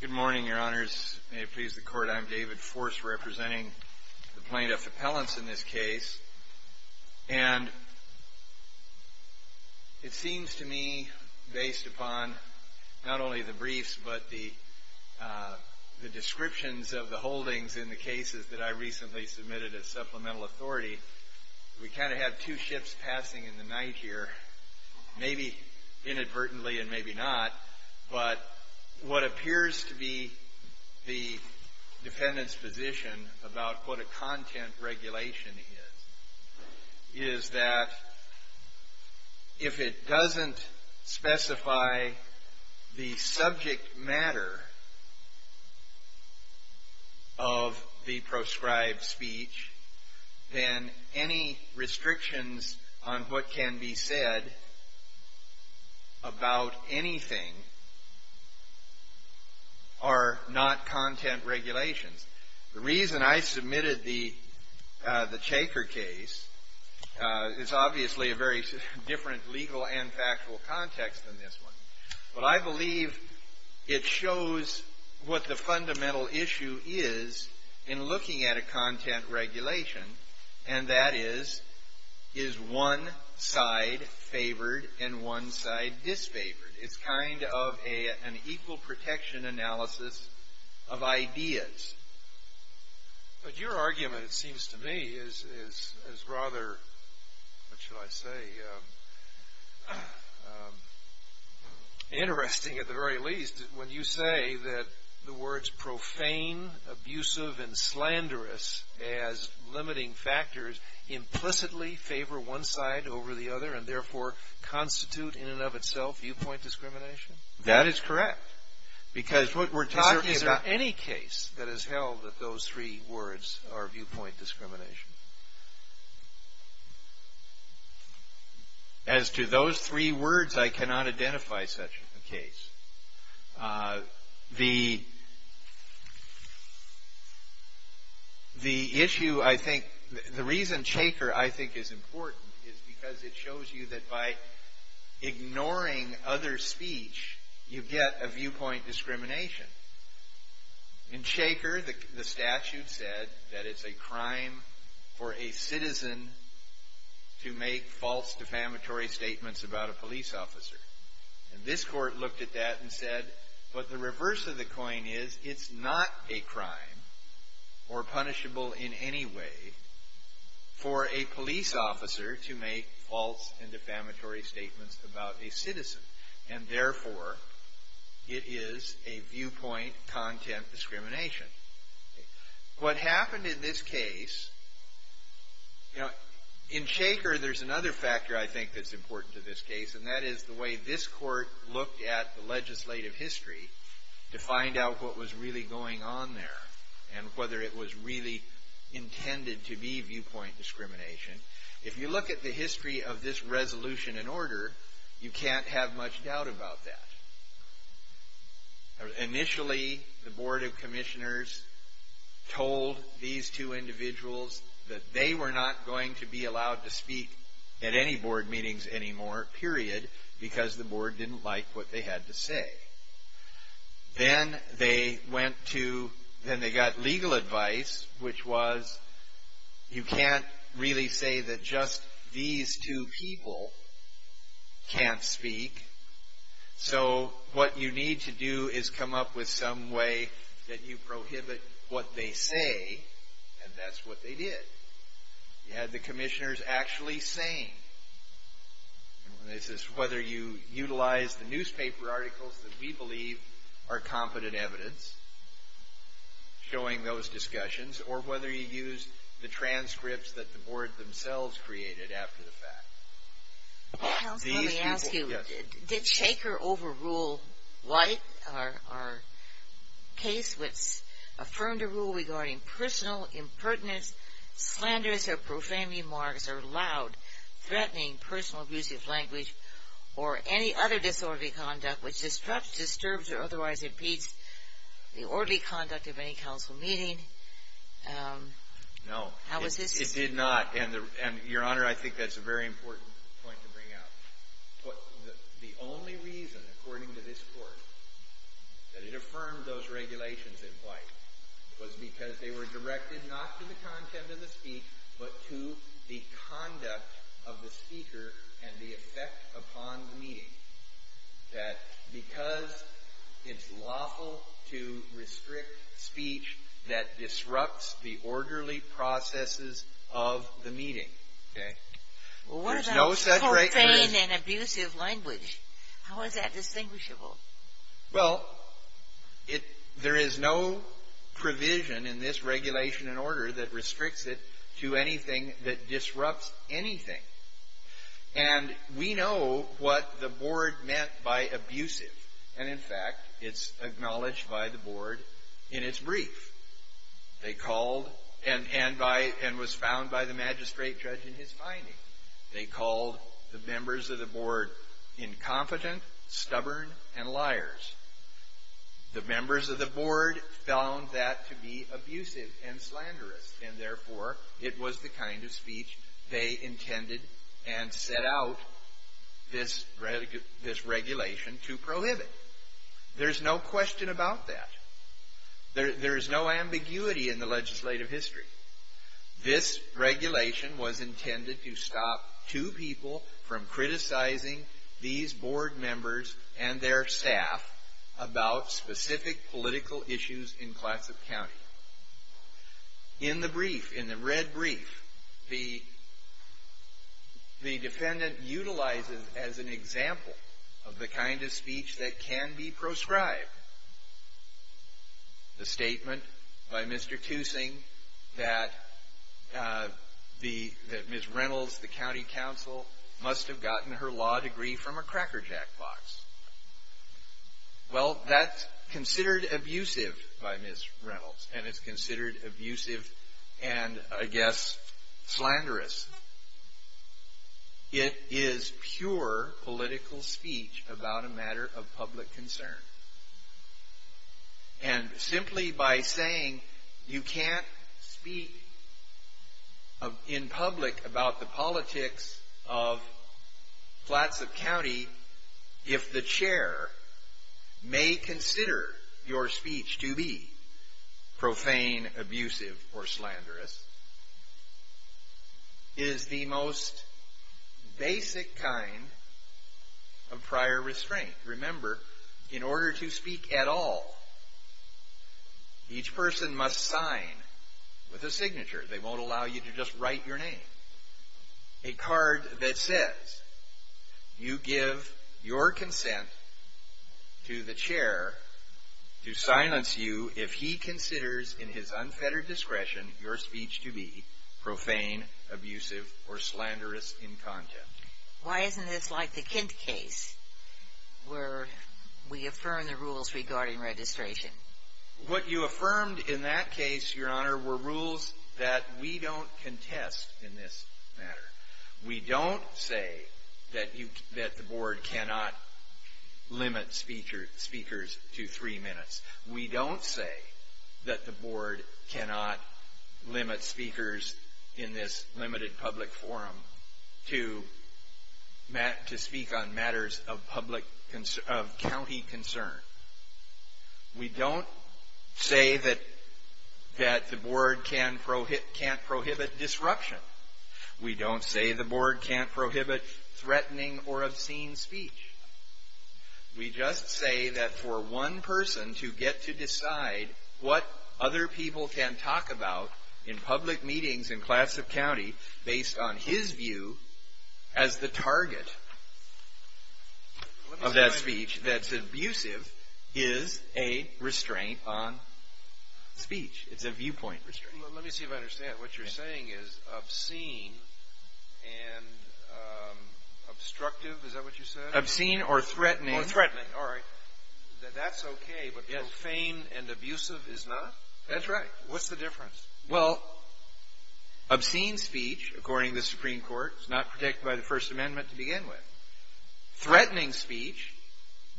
Good morning, your honors. May it please the court, I'm David Force, representing the plaintiff appellants in this case, and it seems to me, based upon not only the briefs, but the descriptions of the holdings in the cases that I recently submitted as supplemental authority, we kind of have two ships passing in the night here, maybe inadvertently and maybe not, but what appears to be the defendant's position about what a content regulation is, is that if it doesn't specify the subject matter of the proscribed speech, then any restrictions on what can be said about anything are not content regulations. The reason I submitted the Chaker case is obviously a very different legal and factual context than this one, but I believe it shows what the fundamental issue is in looking at a content regulation, and that is, is one side favored and one side disfavored? It's kind of an equal protection analysis of ideas. But your argument, it seems to me, is rather, what should I say, interesting at the very least, when you say that the words profane, abusive, and slanderous as limiting factors implicitly favor one side over the other and therefore constitute in and of itself viewpoint discrimination. That is correct. Is there any case that has held that those three words are viewpoint discrimination? As to those three words, I cannot identify such a case. The issue, I think, the reason Chaker, I think, is important is because it shows you that by ignoring other speech, you get a viewpoint discrimination. In Chaker, the statute said that it's a crime for a citizen to make false defamatory statements about a police officer. And this court looked at that and said, but the reverse of the coin is it's not a crime or punishable in any way for a police officer to make false and defamatory statements about a citizen. And therefore, it is a viewpoint content discrimination. What happened in this case, you know, in Chaker, there's another factor, I think, that's important to this case. And that is the way this court looked at the legislative history to find out what was really going on there and whether it was really intended to be viewpoint discrimination. If you look at the history of this resolution and order, you can't have much doubt about that. Initially, the board of commissioners told these two individuals that they were not going to be allowed to speak at any board meetings anymore, period, because the board didn't like what they had to say. Then they went to, then they got legal advice, which was you can't really say that just these two people can't speak. So what you need to do is come up with some way that you prohibit what they say, and that's what they did. You had the commissioners actually saying, and this is whether you utilize the newspaper articles that we believe are competent evidence, showing those discussions, or whether you use the transcripts that the board themselves created after the fact. Counsel, let me ask you, did Shaker overrule White, our case, which affirmed a rule regarding personal impertinence, slanderous or profane remarks, or loud, threatening, personal abusive language, or any other disorderly conduct which disrupts, disturbs, or otherwise impedes the orderly conduct of any council meeting? No. It did not. And, Your Honor, I think that's a very important point to bring out. The only reason, according to this Court, that it affirmed those regulations in White was because they were directed not to the content of the speech, but to the conduct of the speaker and the effect upon the meeting. That because it's lawful to restrict speech that disrupts the orderly processes of the meeting, okay? Well, what about profane and abusive language? How is that distinguishable? Well, there is no provision in this regulation and order that restricts it to anything that disrupts anything. And we know what the board meant by abusive. And, in fact, it's acknowledged by the board in its brief. They called, and was found by the magistrate judge in his finding, they called the members of the board incompetent, stubborn, and liars. The members of the board found that to be abusive and slanderous, and, therefore, it was the kind of speech they intended and set out this regulation to prohibit. There's no question about that. There is no ambiguity in the legislative history. This regulation was intended to stop two people from criticizing these board members and their staff about specific political issues in Clatsop County. In the brief, in the red brief, the defendant utilizes as an example of the kind of speech that can be proscribed. The statement by Mr. Toosing that Ms. Reynolds, the county counsel, must have gotten her law degree from a Cracker Jack box. Well, that's considered abusive by Ms. Reynolds, and it's considered abusive and, I guess, slanderous. It is pure political speech about a matter of public concern, and simply by saying you can't speak in public about the politics of Clatsop County if the chair may consider your speech to be profane, abusive, or slanderous. It is the most basic kind of prior restraint. Remember, in order to speak at all, each person must sign with a signature. They won't allow you to just write your name. A card that says you give your consent to the chair to silence you if he considers in his unfettered discretion your speech to be profane, abusive, or slanderous in content. Why isn't this like the Kent case where we affirm the rules regarding registration? What you affirmed in that case, Your Honor, were rules that we don't contest in this matter. We don't say that the board cannot limit speakers to three minutes. We don't say that the board cannot limit speakers in this limited public forum to speak on matters of county concern. We don't say that the board can't prohibit disruption. We don't say the board can't prohibit threatening or obscene speech. We just say that for one person to get to decide what other people can talk about in public meetings in Clatsop County based on his view as the target of that speech that's abusive is a restraint on speech. It's a viewpoint restraint. Well, let me see if I understand. What you're saying is obscene and obstructive? Is that what you said? Obscene or threatening. Oh, threatening. All right. That's okay, but profane and abusive is not? That's right. What's the difference? Well, obscene speech, according to the Supreme Court, is not protected by the First Amendment to begin with. Threatening speech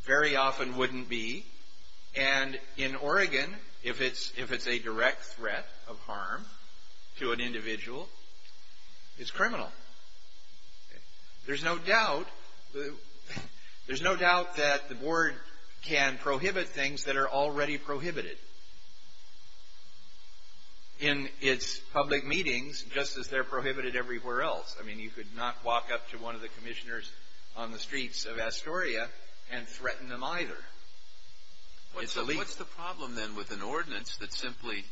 very often wouldn't be. And in Oregon, if it's a direct threat of harm to an individual, it's criminal. There's no doubt that the board can prohibit things that are already prohibited in its public meetings just as they're prohibited everywhere else. I mean, you could not walk up to one of the commissioners on the streets of Astoria and threaten them either. What's the problem then with an ordinance that simply,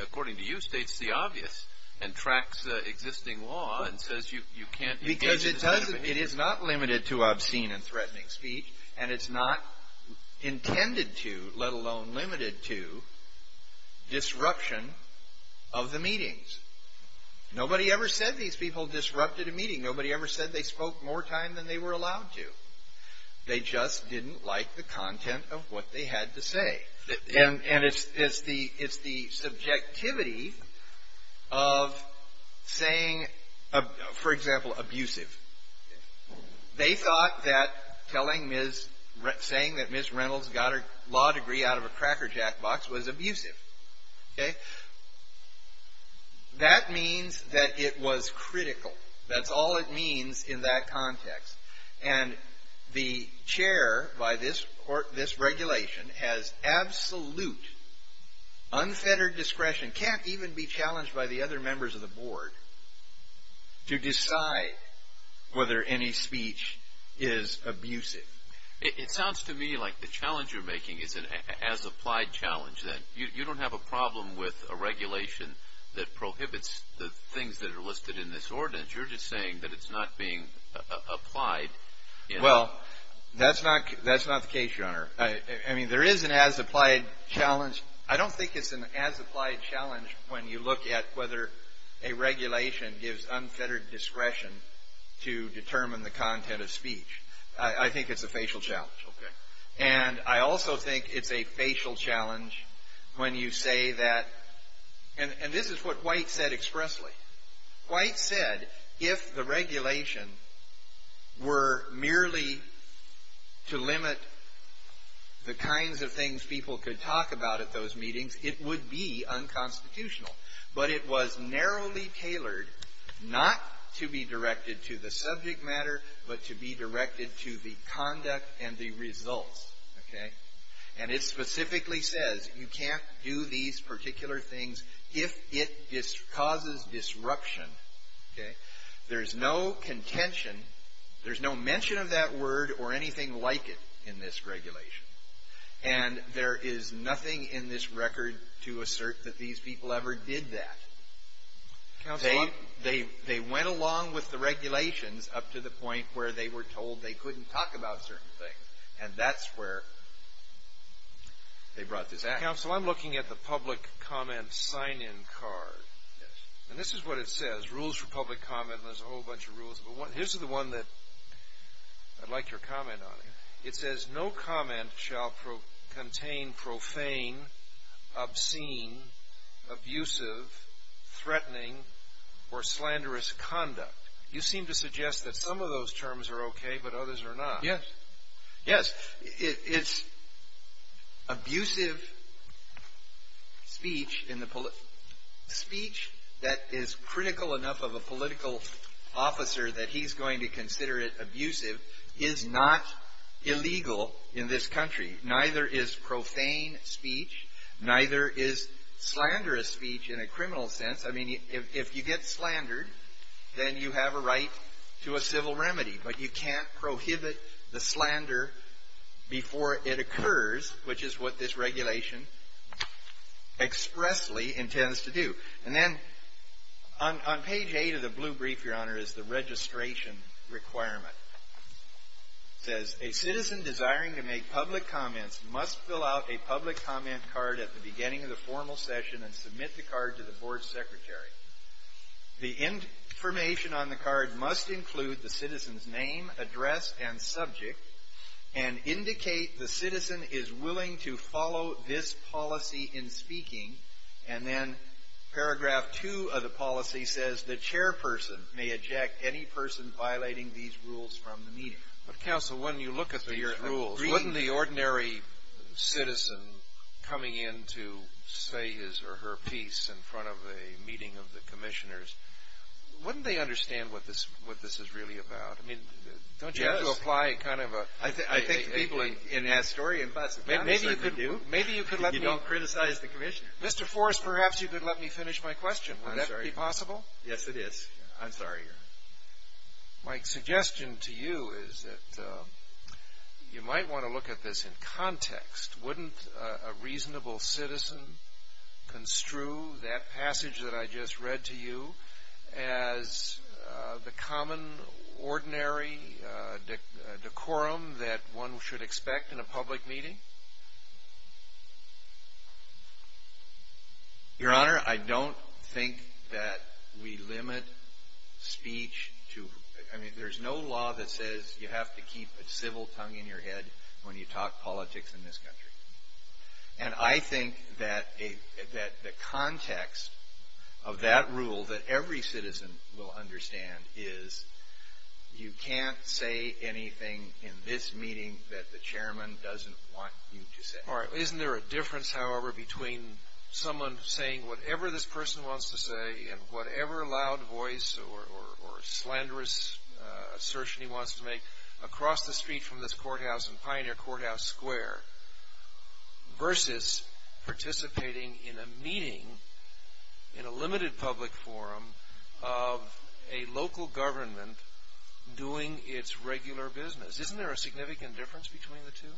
according to you, states the obvious and tracks existing law and says you can't engage in this kind of behavior? Because it is not limited to obscene and threatening speech, and it's not intended to, let alone limited to, disruption of the meetings. Nobody ever said these people disrupted a meeting. Nobody ever said they spoke more time than they were allowed to. They just didn't like the content of what they had to say. And it's the subjectivity of saying, for example, abusive. They thought that telling Ms. — saying that Ms. Reynolds got her law degree out of a Cracker Jack box was abusive. Okay? That means that it was critical. That's all it means in that context. And the chair by this regulation has absolute unfettered discretion, can't even be challenged by the other members of the board, to decide whether any speech is abusive. It sounds to me like the challenge you're making is an as-applied challenge, that you don't have a problem with a regulation that prohibits the things that are listed in this ordinance. You're just saying that it's not being applied. Well, that's not the case, Your Honor. I mean, there is an as-applied challenge. I don't think it's an as-applied challenge when you look at whether a regulation gives unfettered discretion to determine the content of speech. I think it's a facial challenge. Okay. And I also think it's a facial challenge when you say that — and this is what White said expressly. White said if the regulation were merely to limit the kinds of things people could talk about at those meetings, it would be unconstitutional. But it was narrowly tailored not to be directed to the subject matter, but to be directed to the conduct and the results. Okay? And it specifically says you can't do these particular things if it causes disruption. Okay? There's no contention. There's no mention of that word or anything like it in this regulation. And there is nothing in this record to assert that these people ever did that. Counsel, I'm — They went along with the regulations up to the point where they were told they couldn't talk about certain things. And that's where they brought this act. Counsel, I'm looking at the public comment sign-in card. Yes. And this is what it says, rules for public comment, and there's a whole bunch of rules. But here's the one that I'd like your comment on. Okay. It says, no comment shall contain profane, obscene, abusive, threatening, or slanderous conduct. You seem to suggest that some of those terms are okay, but others are not. Yes. Yes. It's abusive speech in the — speech that is critical enough of a political officer that he's going to consider it abusive is not illegal in this country. Neither is profane speech. Neither is slanderous speech in a criminal sense. I mean, if you get slandered, then you have a right to a civil remedy. But you can't prohibit the slander before it occurs, which is what this regulation expressly intends to do. And then on page 8 of the blue brief, Your Honor, is the registration requirement. It says, a citizen desiring to make public comments must fill out a public comment card at the beginning of the formal session and submit the card to the board secretary. The information on the card must include the citizen's name, address, and subject and indicate the citizen is willing to follow this policy in speaking. And then paragraph 2 of the policy says the chairperson may eject any person violating these rules from the meeting. But, counsel, when you look at these rules, wouldn't the ordinary citizen coming in to say his or her piece in front of a meeting of the commissioners, wouldn't they understand what this is really about? I mean, don't you have to apply kind of a – Yes. I think the people in Astoria and Boston probably certainly do. Maybe you could let me – If you don't criticize the commissioner. Mr. Forrest, perhaps you could let me finish my question. Would that be possible? Yes, it is. I'm sorry, Your Honor. My suggestion to you is that you might want to look at this in context. Wouldn't a reasonable citizen construe that passage that I just read to you as the common, ordinary decorum that one should expect in a public meeting? Your Honor, I don't think that we limit speech to – I mean, there's no law that says you have to keep a civil tongue in your head when you talk politics in this country. And I think that the context of that rule that every citizen will understand is you can't say anything in this meeting that the chairman doesn't want you to say. All right. Isn't there a difference, however, between someone saying whatever this person wants to say in whatever loud voice or slanderous assertion he wants to make across the street from this courthouse in Pioneer Courthouse Square versus participating in a meeting in a limited public forum of a local government doing its regular business? Isn't there a significant difference between the two?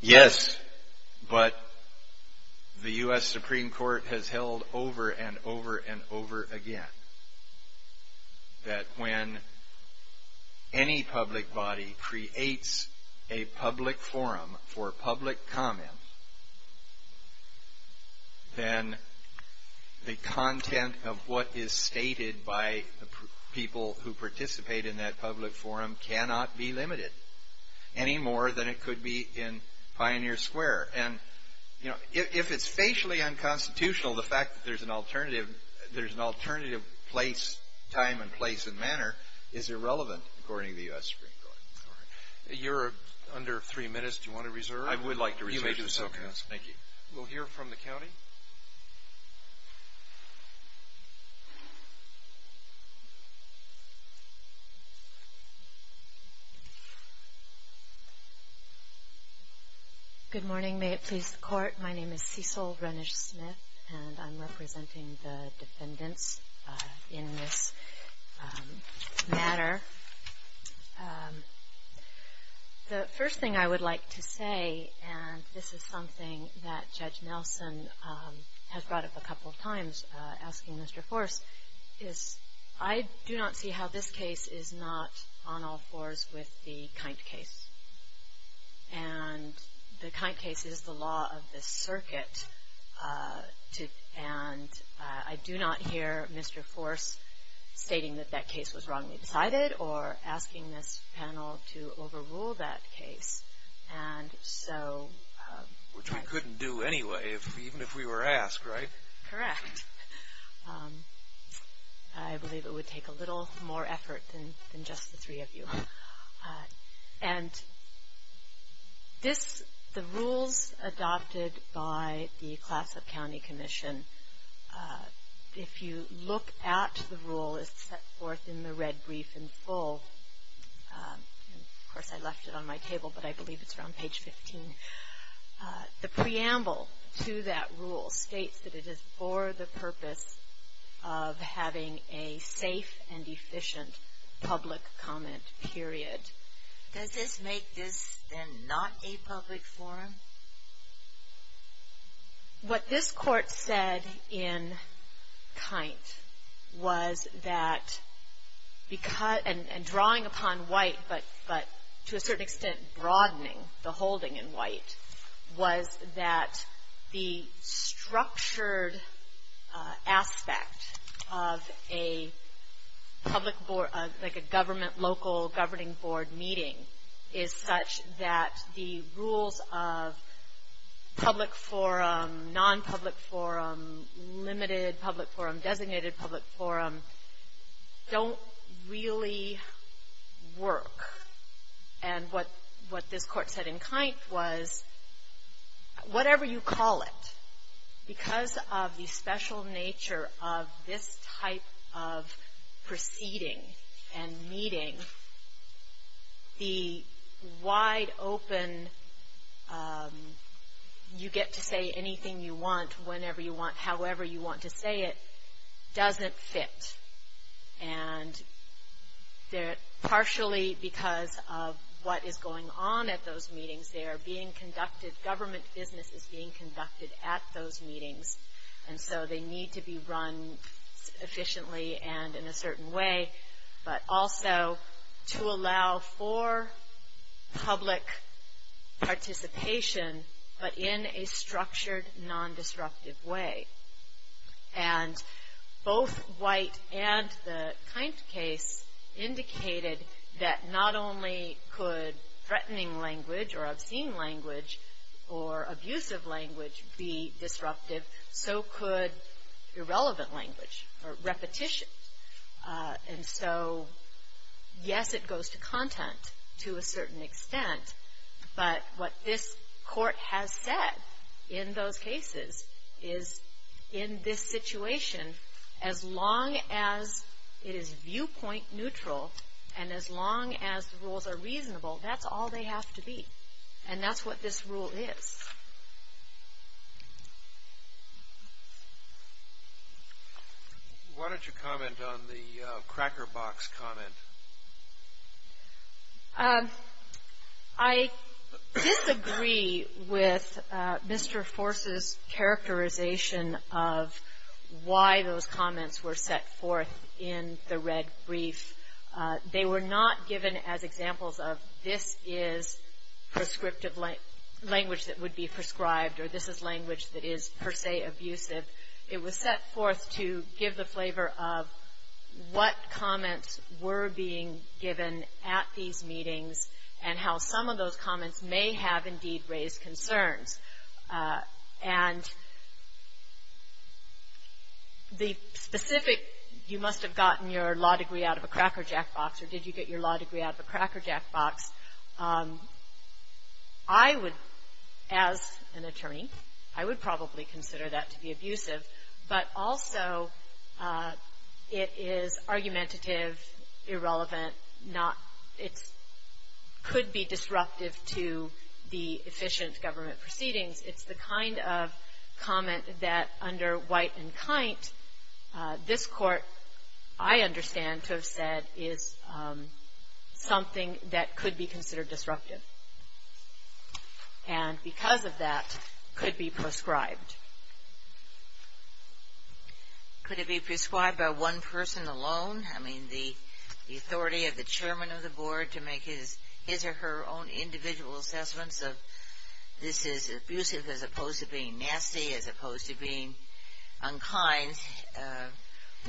Yes, but the U.S. Supreme Court has held over and over and over again that when any public body creates a public forum for public comment, then the content of what is stated by the people who participate in that public forum cannot be limited any more than it could be in Pioneer Square. And, you know, if it's facially unconstitutional, the fact that there's an alternative time and place and manner is irrelevant, according to the U.S. Supreme Court. All right. You're under three minutes. Do you want to reserve? I would like to reserve. You may do so, counsel. Thank you. We'll hear from the county. Thank you. Good morning. May it please the court. My name is Cecil Renish-Smith, and I'm representing the defendants in this matter. The first thing I would like to say, and this is something that Judge Nelson has brought up a couple of times asking Mr. Force, is I do not see how this case is not on all fours with the Kindt case. And the Kindt case is the law of the circuit, and I do not hear Mr. Force stating that that case was wrongly decided or asking this panel to overrule that case. Which we couldn't do anyway, even if we were asked, right? Correct. I believe it would take a little more effort than just the three of you. And the rules adopted by the Clatsop County Commission, if you look at the rule, it's set forth in the red brief in full. Of course, I left it on my table, but I believe it's around page 15. The preamble to that rule states that it is for the purpose of having a safe and efficient public comment period. Does this make this, then, not a public forum? What this court said in Kindt was that, and drawing upon white, but to a certain extent broadening the holding in white, was that the structured aspect of a public, like a government, local governing board meeting, is such that the rules of public forum, non-public forum, limited public forum, designated public forum, don't really work. And what this court said in Kindt was, whatever you call it, because of the special nature of this type of proceeding and meeting, the wide open, you get to say anything you want, whenever you want, however you want to say it, doesn't fit. And partially because of what is going on at those meetings, they are being conducted, government business is being conducted at those meetings, and so they need to be run efficiently and in a certain way. But also to allow for public participation, but in a structured, non-disruptive way. And both white and the Kindt case indicated that not only could threatening language or obscene language or abusive language be disruptive, so could irrelevant language or repetition. And so, yes, it goes to content to a certain extent, but what this court has said in those cases is, in this situation, as long as it is viewpoint neutral, and as long as the rules are reasonable, that's all they have to be. And that's what this rule is. Why don't you comment on the cracker box comment? I disagree with Mr. Force's characterization of why those comments were set forth in the red brief. They were not given as examples of, this is prescriptive language that would be prescribed, or this is language that is per se abusive. It was set forth to give the flavor of what comments were being given at these meetings, and how some of those comments may have indeed raised concerns. And the specific, you must have gotten your law degree out of a cracker jack box, or did you get your law degree out of a cracker jack box, I would, as an attorney, I would probably consider that to be abusive. But also, it is argumentative, irrelevant, not, it could be disruptive to the efficient government proceedings. It's the kind of comment that under white and kind, this court, I understand to have said, is something that could be considered disruptive. And because of that, could be prescribed. Could it be prescribed by one person alone? I mean, the authority of the chairman of the board to make his or her own individual assessments of this is abusive as opposed to being nasty, as opposed to being unkind.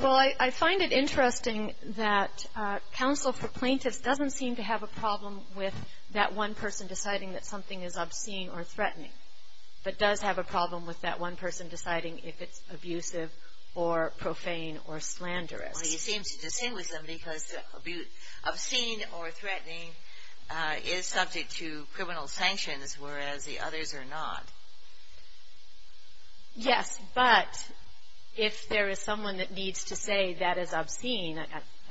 Well, I find it interesting that counsel for plaintiffs doesn't seem to have a problem with that one person deciding that something is obscene or threatening, but does have a problem with that one person deciding if it's abusive or profane or slanderous. Well, you seem to distinguish them because obscene or threatening is subject to criminal sanctions, whereas the others are not. Yes, but if there is someone that needs to say that is obscene,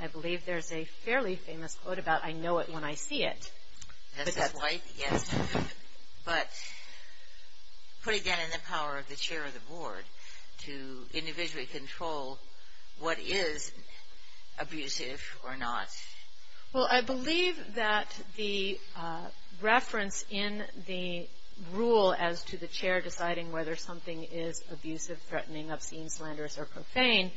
I believe there's a fairly famous quote about, I know it when I see it. That's right, yes. But put again in the power of the chair of the board to individually control what is abusive or not. Well, I believe that the reference in the rule as to the chair deciding whether something is abusive, threatening, obscene, slanderous, or profane,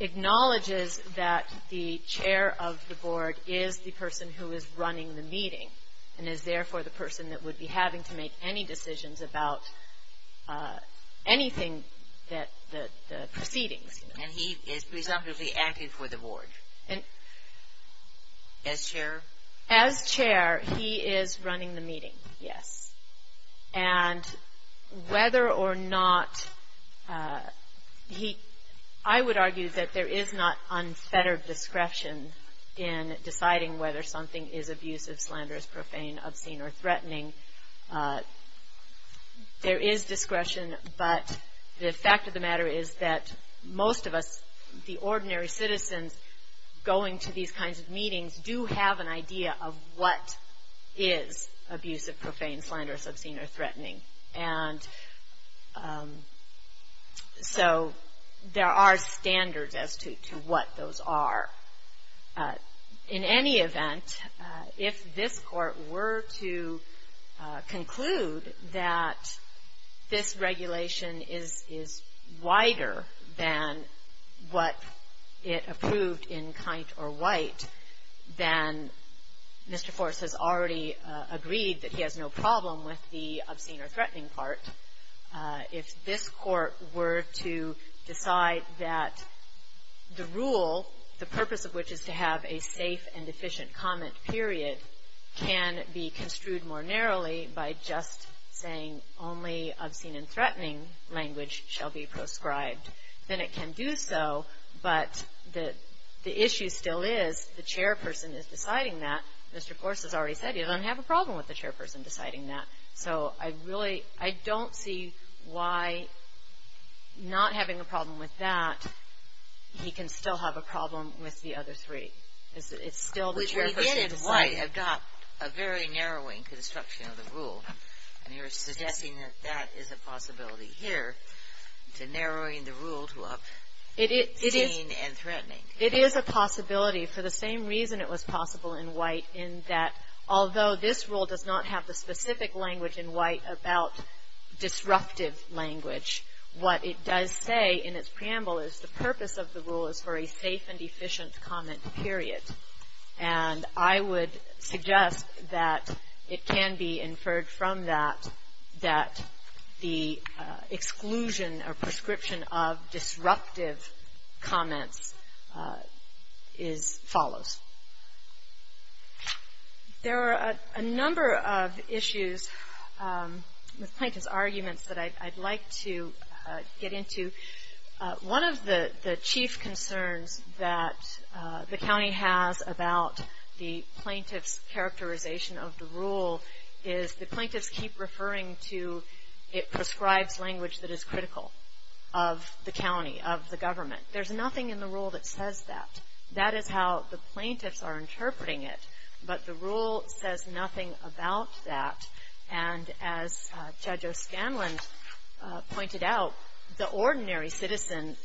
acknowledges that the chair of the board is the person who is running the meeting and is therefore the person that would be having to make any decisions about anything that the proceedings. And he is presumptively acting for the board. As chair? As chair, he is running the meeting, yes. And whether or not he, I would argue that there is not unfettered discretion in deciding whether something is abusive, slanderous, profane, obscene, or threatening. There is discretion, but the fact of the matter is that most of us, the ordinary citizens, going to these kinds of meetings do have an idea of what is abusive, profane, slanderous, obscene, or threatening. And so there are standards as to what those are. In any event, if this court were to conclude that this regulation is wider than what it approved in Kindt or White, then Mr. Forrest has already agreed that he has no problem with the obscene or threatening part. If this court were to decide that the rule, the purpose of which is to have a safe and efficient comment period, can be construed more narrowly by just saying only obscene and threatening language shall be proscribed, then it can do so, but the issue still is the chairperson is deciding that. Mr. Forrest has already said he doesn't have a problem with the chairperson deciding that. So I really, I don't see why not having a problem with that, he can still have a problem with the other three. It's still the chairperson deciding. I've got a very narrowing construction of the rule, and you're suggesting that that is a possibility here, to narrowing the rule to obscene and threatening. It is a possibility for the same reason it was possible in White, in that although this rule does not have the specific language in White about disruptive language, what it does say in its preamble is the purpose of the rule is for a safe and efficient comment period. And I would suggest that it can be inferred from that that the exclusion or prescription of disruptive comments is, follows. There are a number of issues with Plankton's arguments that I'd like to get into. One of the chief concerns that the county has about the plaintiff's characterization of the rule is, the plaintiffs keep referring to it prescribes language that is critical of the county, of the government. There's nothing in the rule that says that. That is how the plaintiffs are interpreting it. But the rule says nothing about that. And as Judge O'Scanlan pointed out, the ordinary citizen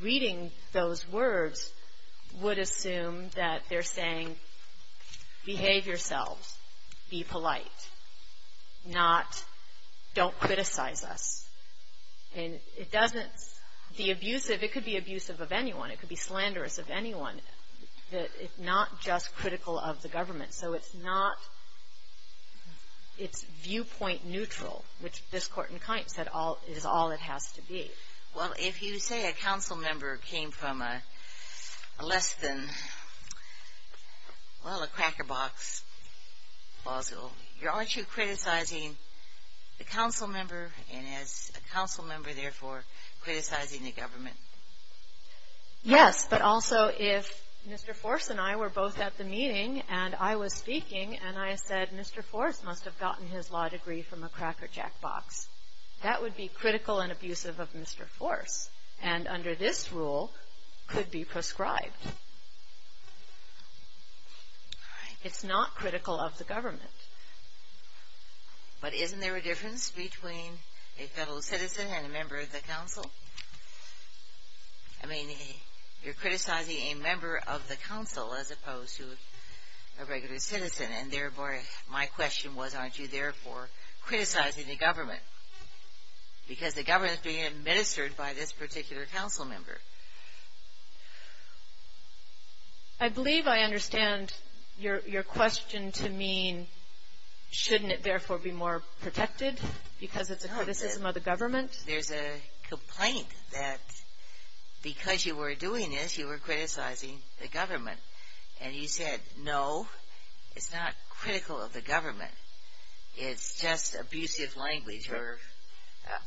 reading those words would assume that they're saying, behave yourselves, be polite, not, don't criticize us. And it doesn't, the abusive, it could be abusive of anyone, it could be slanderous of anyone, that it's not just critical of the government. So it's not, it's viewpoint neutral, which this court in kind said is all it has to be. Well, if you say a council member came from a less than, well, a cracker box, aren't you criticizing the council member, and is a council member, therefore, criticizing the government? Yes, but also if Mr. Force and I were both at the meeting, and I was speaking, and I said Mr. Force must have gotten his law degree from a cracker jack box. That would be critical and abusive of Mr. Force. And under this rule, could be prescribed. It's not critical of the government. But isn't there a difference between a federal citizen and a member of the council? I mean, you're criticizing a member of the council as opposed to a regular citizen. And therefore, my question was, aren't you, therefore, criticizing the government? Because the government is being administered by this particular council member. I believe I understand your question to mean, shouldn't it, therefore, be more protected, because it's a criticism of the government? There's a complaint that because you were doing this, you were criticizing the government. And you said, no, it's not critical of the government. It's just abusive language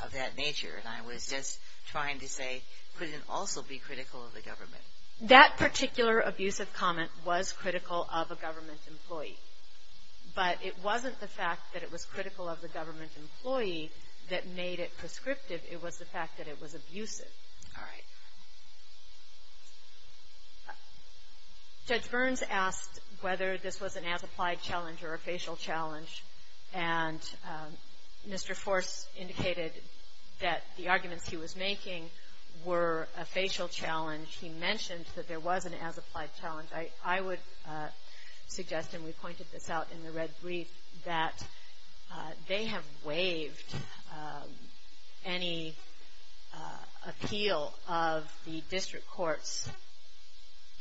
of that nature. And I was just trying to say, couldn't it also be critical of the government? That particular abusive comment was critical of a government employee. But it wasn't the fact that it was critical of the government employee that made it prescriptive. It was the fact that it was abusive. All right. Judge Burns asked whether this was an as-applied challenge or a facial challenge. And Mr. Force indicated that the arguments he was making were a facial challenge. He mentioned that there was an as-applied challenge. I would suggest, and we pointed this out in the red brief, that they have waived any appeal of the district court's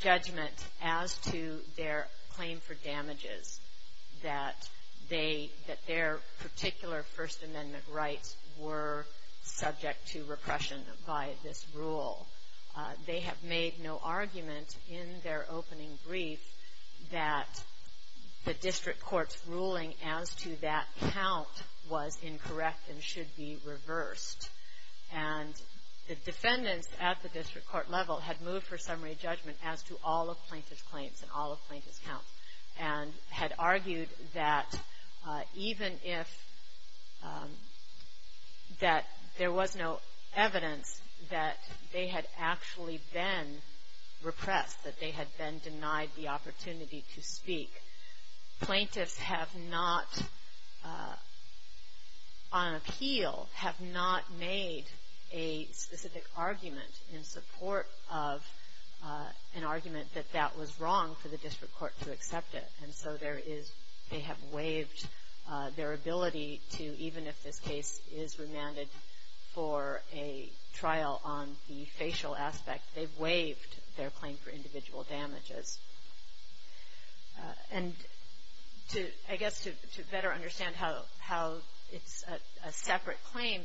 judgment as to their claim for damages. That their particular First Amendment rights were subject to repression by this rule. They have made no argument in their opening brief that the district court's ruling as to that count was incorrect and should be reversed. And the defendants at the district court level had moved for summary judgment as to all of plaintiff's claims and all of plaintiff's counts. And had argued that even if that there was no evidence that they had actually been repressed, that they had been denied the opportunity to speak, plaintiffs have not, on appeal, have not made a specific argument in support of an argument that that was wrong for the district court to accept it. And so they have waived their ability to, even if this case is remanded for a trial on the facial aspect, they've waived their claim for individual damages. And I guess to better understand how it's a separate claim,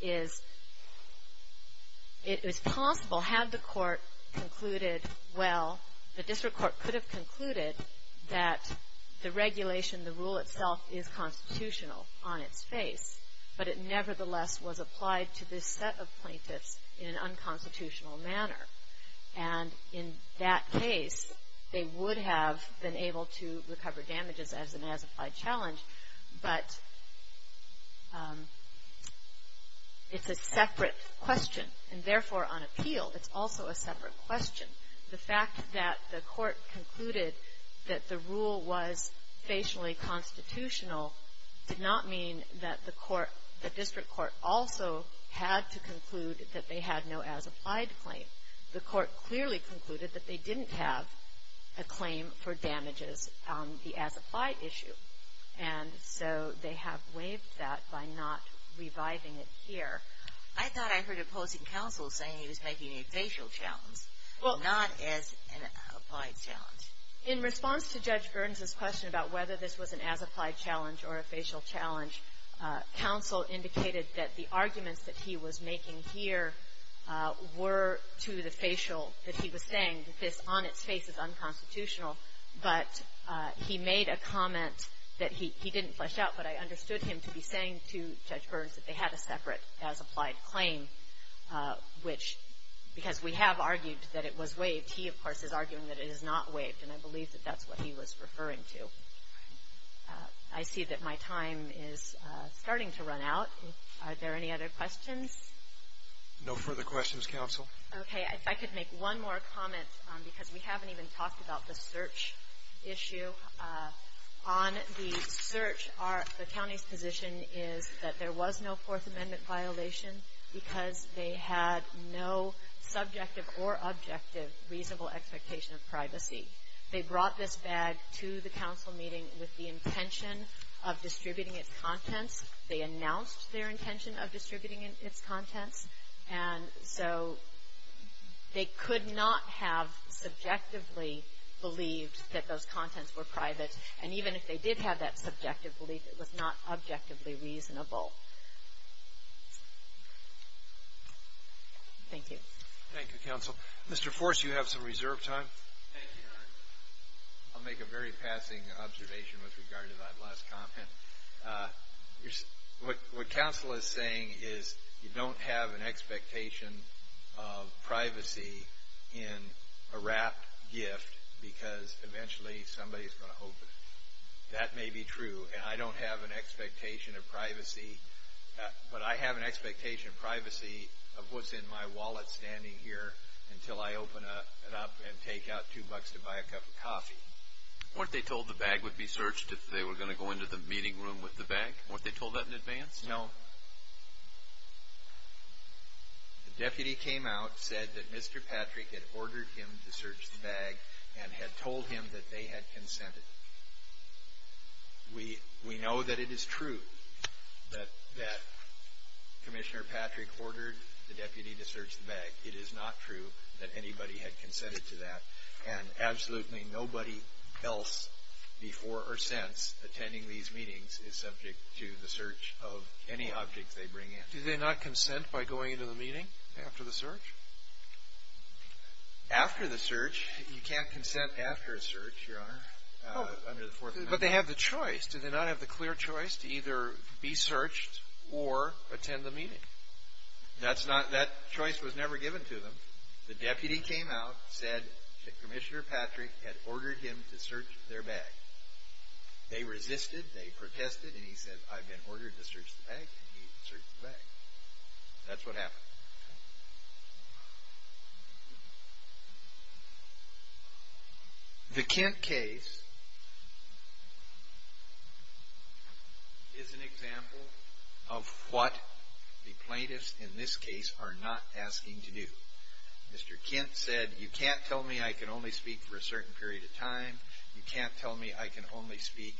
is it was possible, had the court concluded well, the district court could have concluded that the regulation, the rule itself, is constitutional on its face. But it nevertheless was applied to this set of plaintiffs in an unconstitutional manner. And in that case, they would have been able to recover damages as an as-applied challenge. But it's a separate question. And therefore, on appeal, it's also a separate question. The fact that the court concluded that the rule was facially constitutional did not mean that the court, the district court also had to conclude that they had no as-applied claim. The court clearly concluded that they didn't have a claim for damages on the as-applied issue. And so they have waived that by not reviving it here. I thought I heard opposing counsel saying he was making a facial challenge, not as an applied challenge. In response to Judge Burns' question about whether this was an as-applied challenge or a facial challenge, counsel indicated that the arguments that he was making here were to the facial that he was saying, that this on its face is unconstitutional. But he made a comment that he didn't flesh out, but I understood him to be saying to Judge Burns that they had a separate as-applied claim, which, because we have argued that it was waived, he, of course, is arguing that it is not waived. And I believe that that's what he was referring to. I see that my time is starting to run out. Are there any other questions? No further questions, counsel. Okay. If I could make one more comment, because we haven't even talked about the search issue. On the search, the county's position is that there was no Fourth Amendment violation because they had no subjective or objective reasonable expectation of privacy. They brought this bag to the council meeting with the intention of distributing its contents. They announced their intention of distributing its contents. And so they could not have subjectively believed that those contents were private. And even if they did have that subjective belief, it was not objectively reasonable. Thank you. Thank you, counsel. Mr. Force, you have some reserve time. Thank you, Your Honor. I'll make a very passing observation with regard to that last comment. What counsel is saying is you don't have an expectation of privacy in a wrapped gift because eventually somebody is going to open it. That may be true. And I don't have an expectation of privacy, but I have an expectation of privacy of what's in my wallet standing here until I open it up and take out two bucks to buy a cup of coffee. Weren't they told the bag would be searched if they were going to go into the meeting room with the bag? Weren't they told that in advance? No. The deputy came out, said that Mr. Patrick had ordered him to search the bag and had told him that they had consented. We know that it is true that Commissioner Patrick ordered the deputy to search the bag. It is not true that anybody had consented to that. And absolutely nobody else before or since attending these meetings is subject to the search of any objects they bring in. Do they not consent by going into the meeting after the search? After the search, you can't consent after a search, Your Honor, under the Fourth Amendment. But they have the choice. Do they not have the clear choice to either be searched or attend the meeting? That choice was never given to them. The deputy came out, said that Commissioner Patrick had ordered him to search their bag. They resisted. They protested. And he said, I've been ordered to search the bag. And he searched the bag. That's what happened. The Kent case is an example of what the plaintiffs in this case are not asking to do. Mr. Kent said, you can't tell me I can only speak for a certain period of time. You can't tell me I can only speak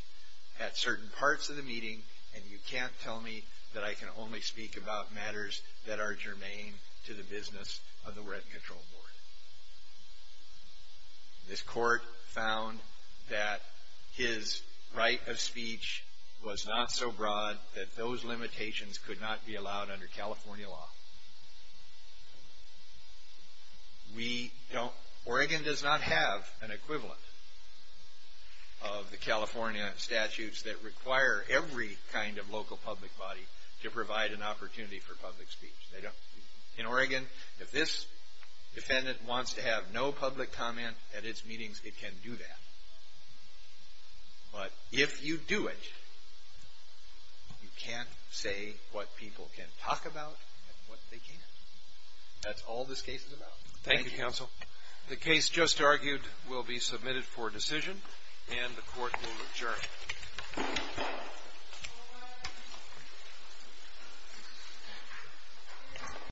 at certain parts of the meeting. And you can't tell me that I can only speak about matters that are germane to the business of the Red Control Board. This court found that his right of speech was not so broad that those limitations could not be allowed under California law. Oregon does not have an equivalent of the California statutes that require every kind of local public body to provide an opportunity for public speech. In Oregon, if this defendant wants to have no public comment at its meetings, it can do that. But if you do it, you can't say what people can talk about and what they can't. That's all this case is about. Thank you, counsel. The case just argued will be submitted for decision, and the court will adjourn.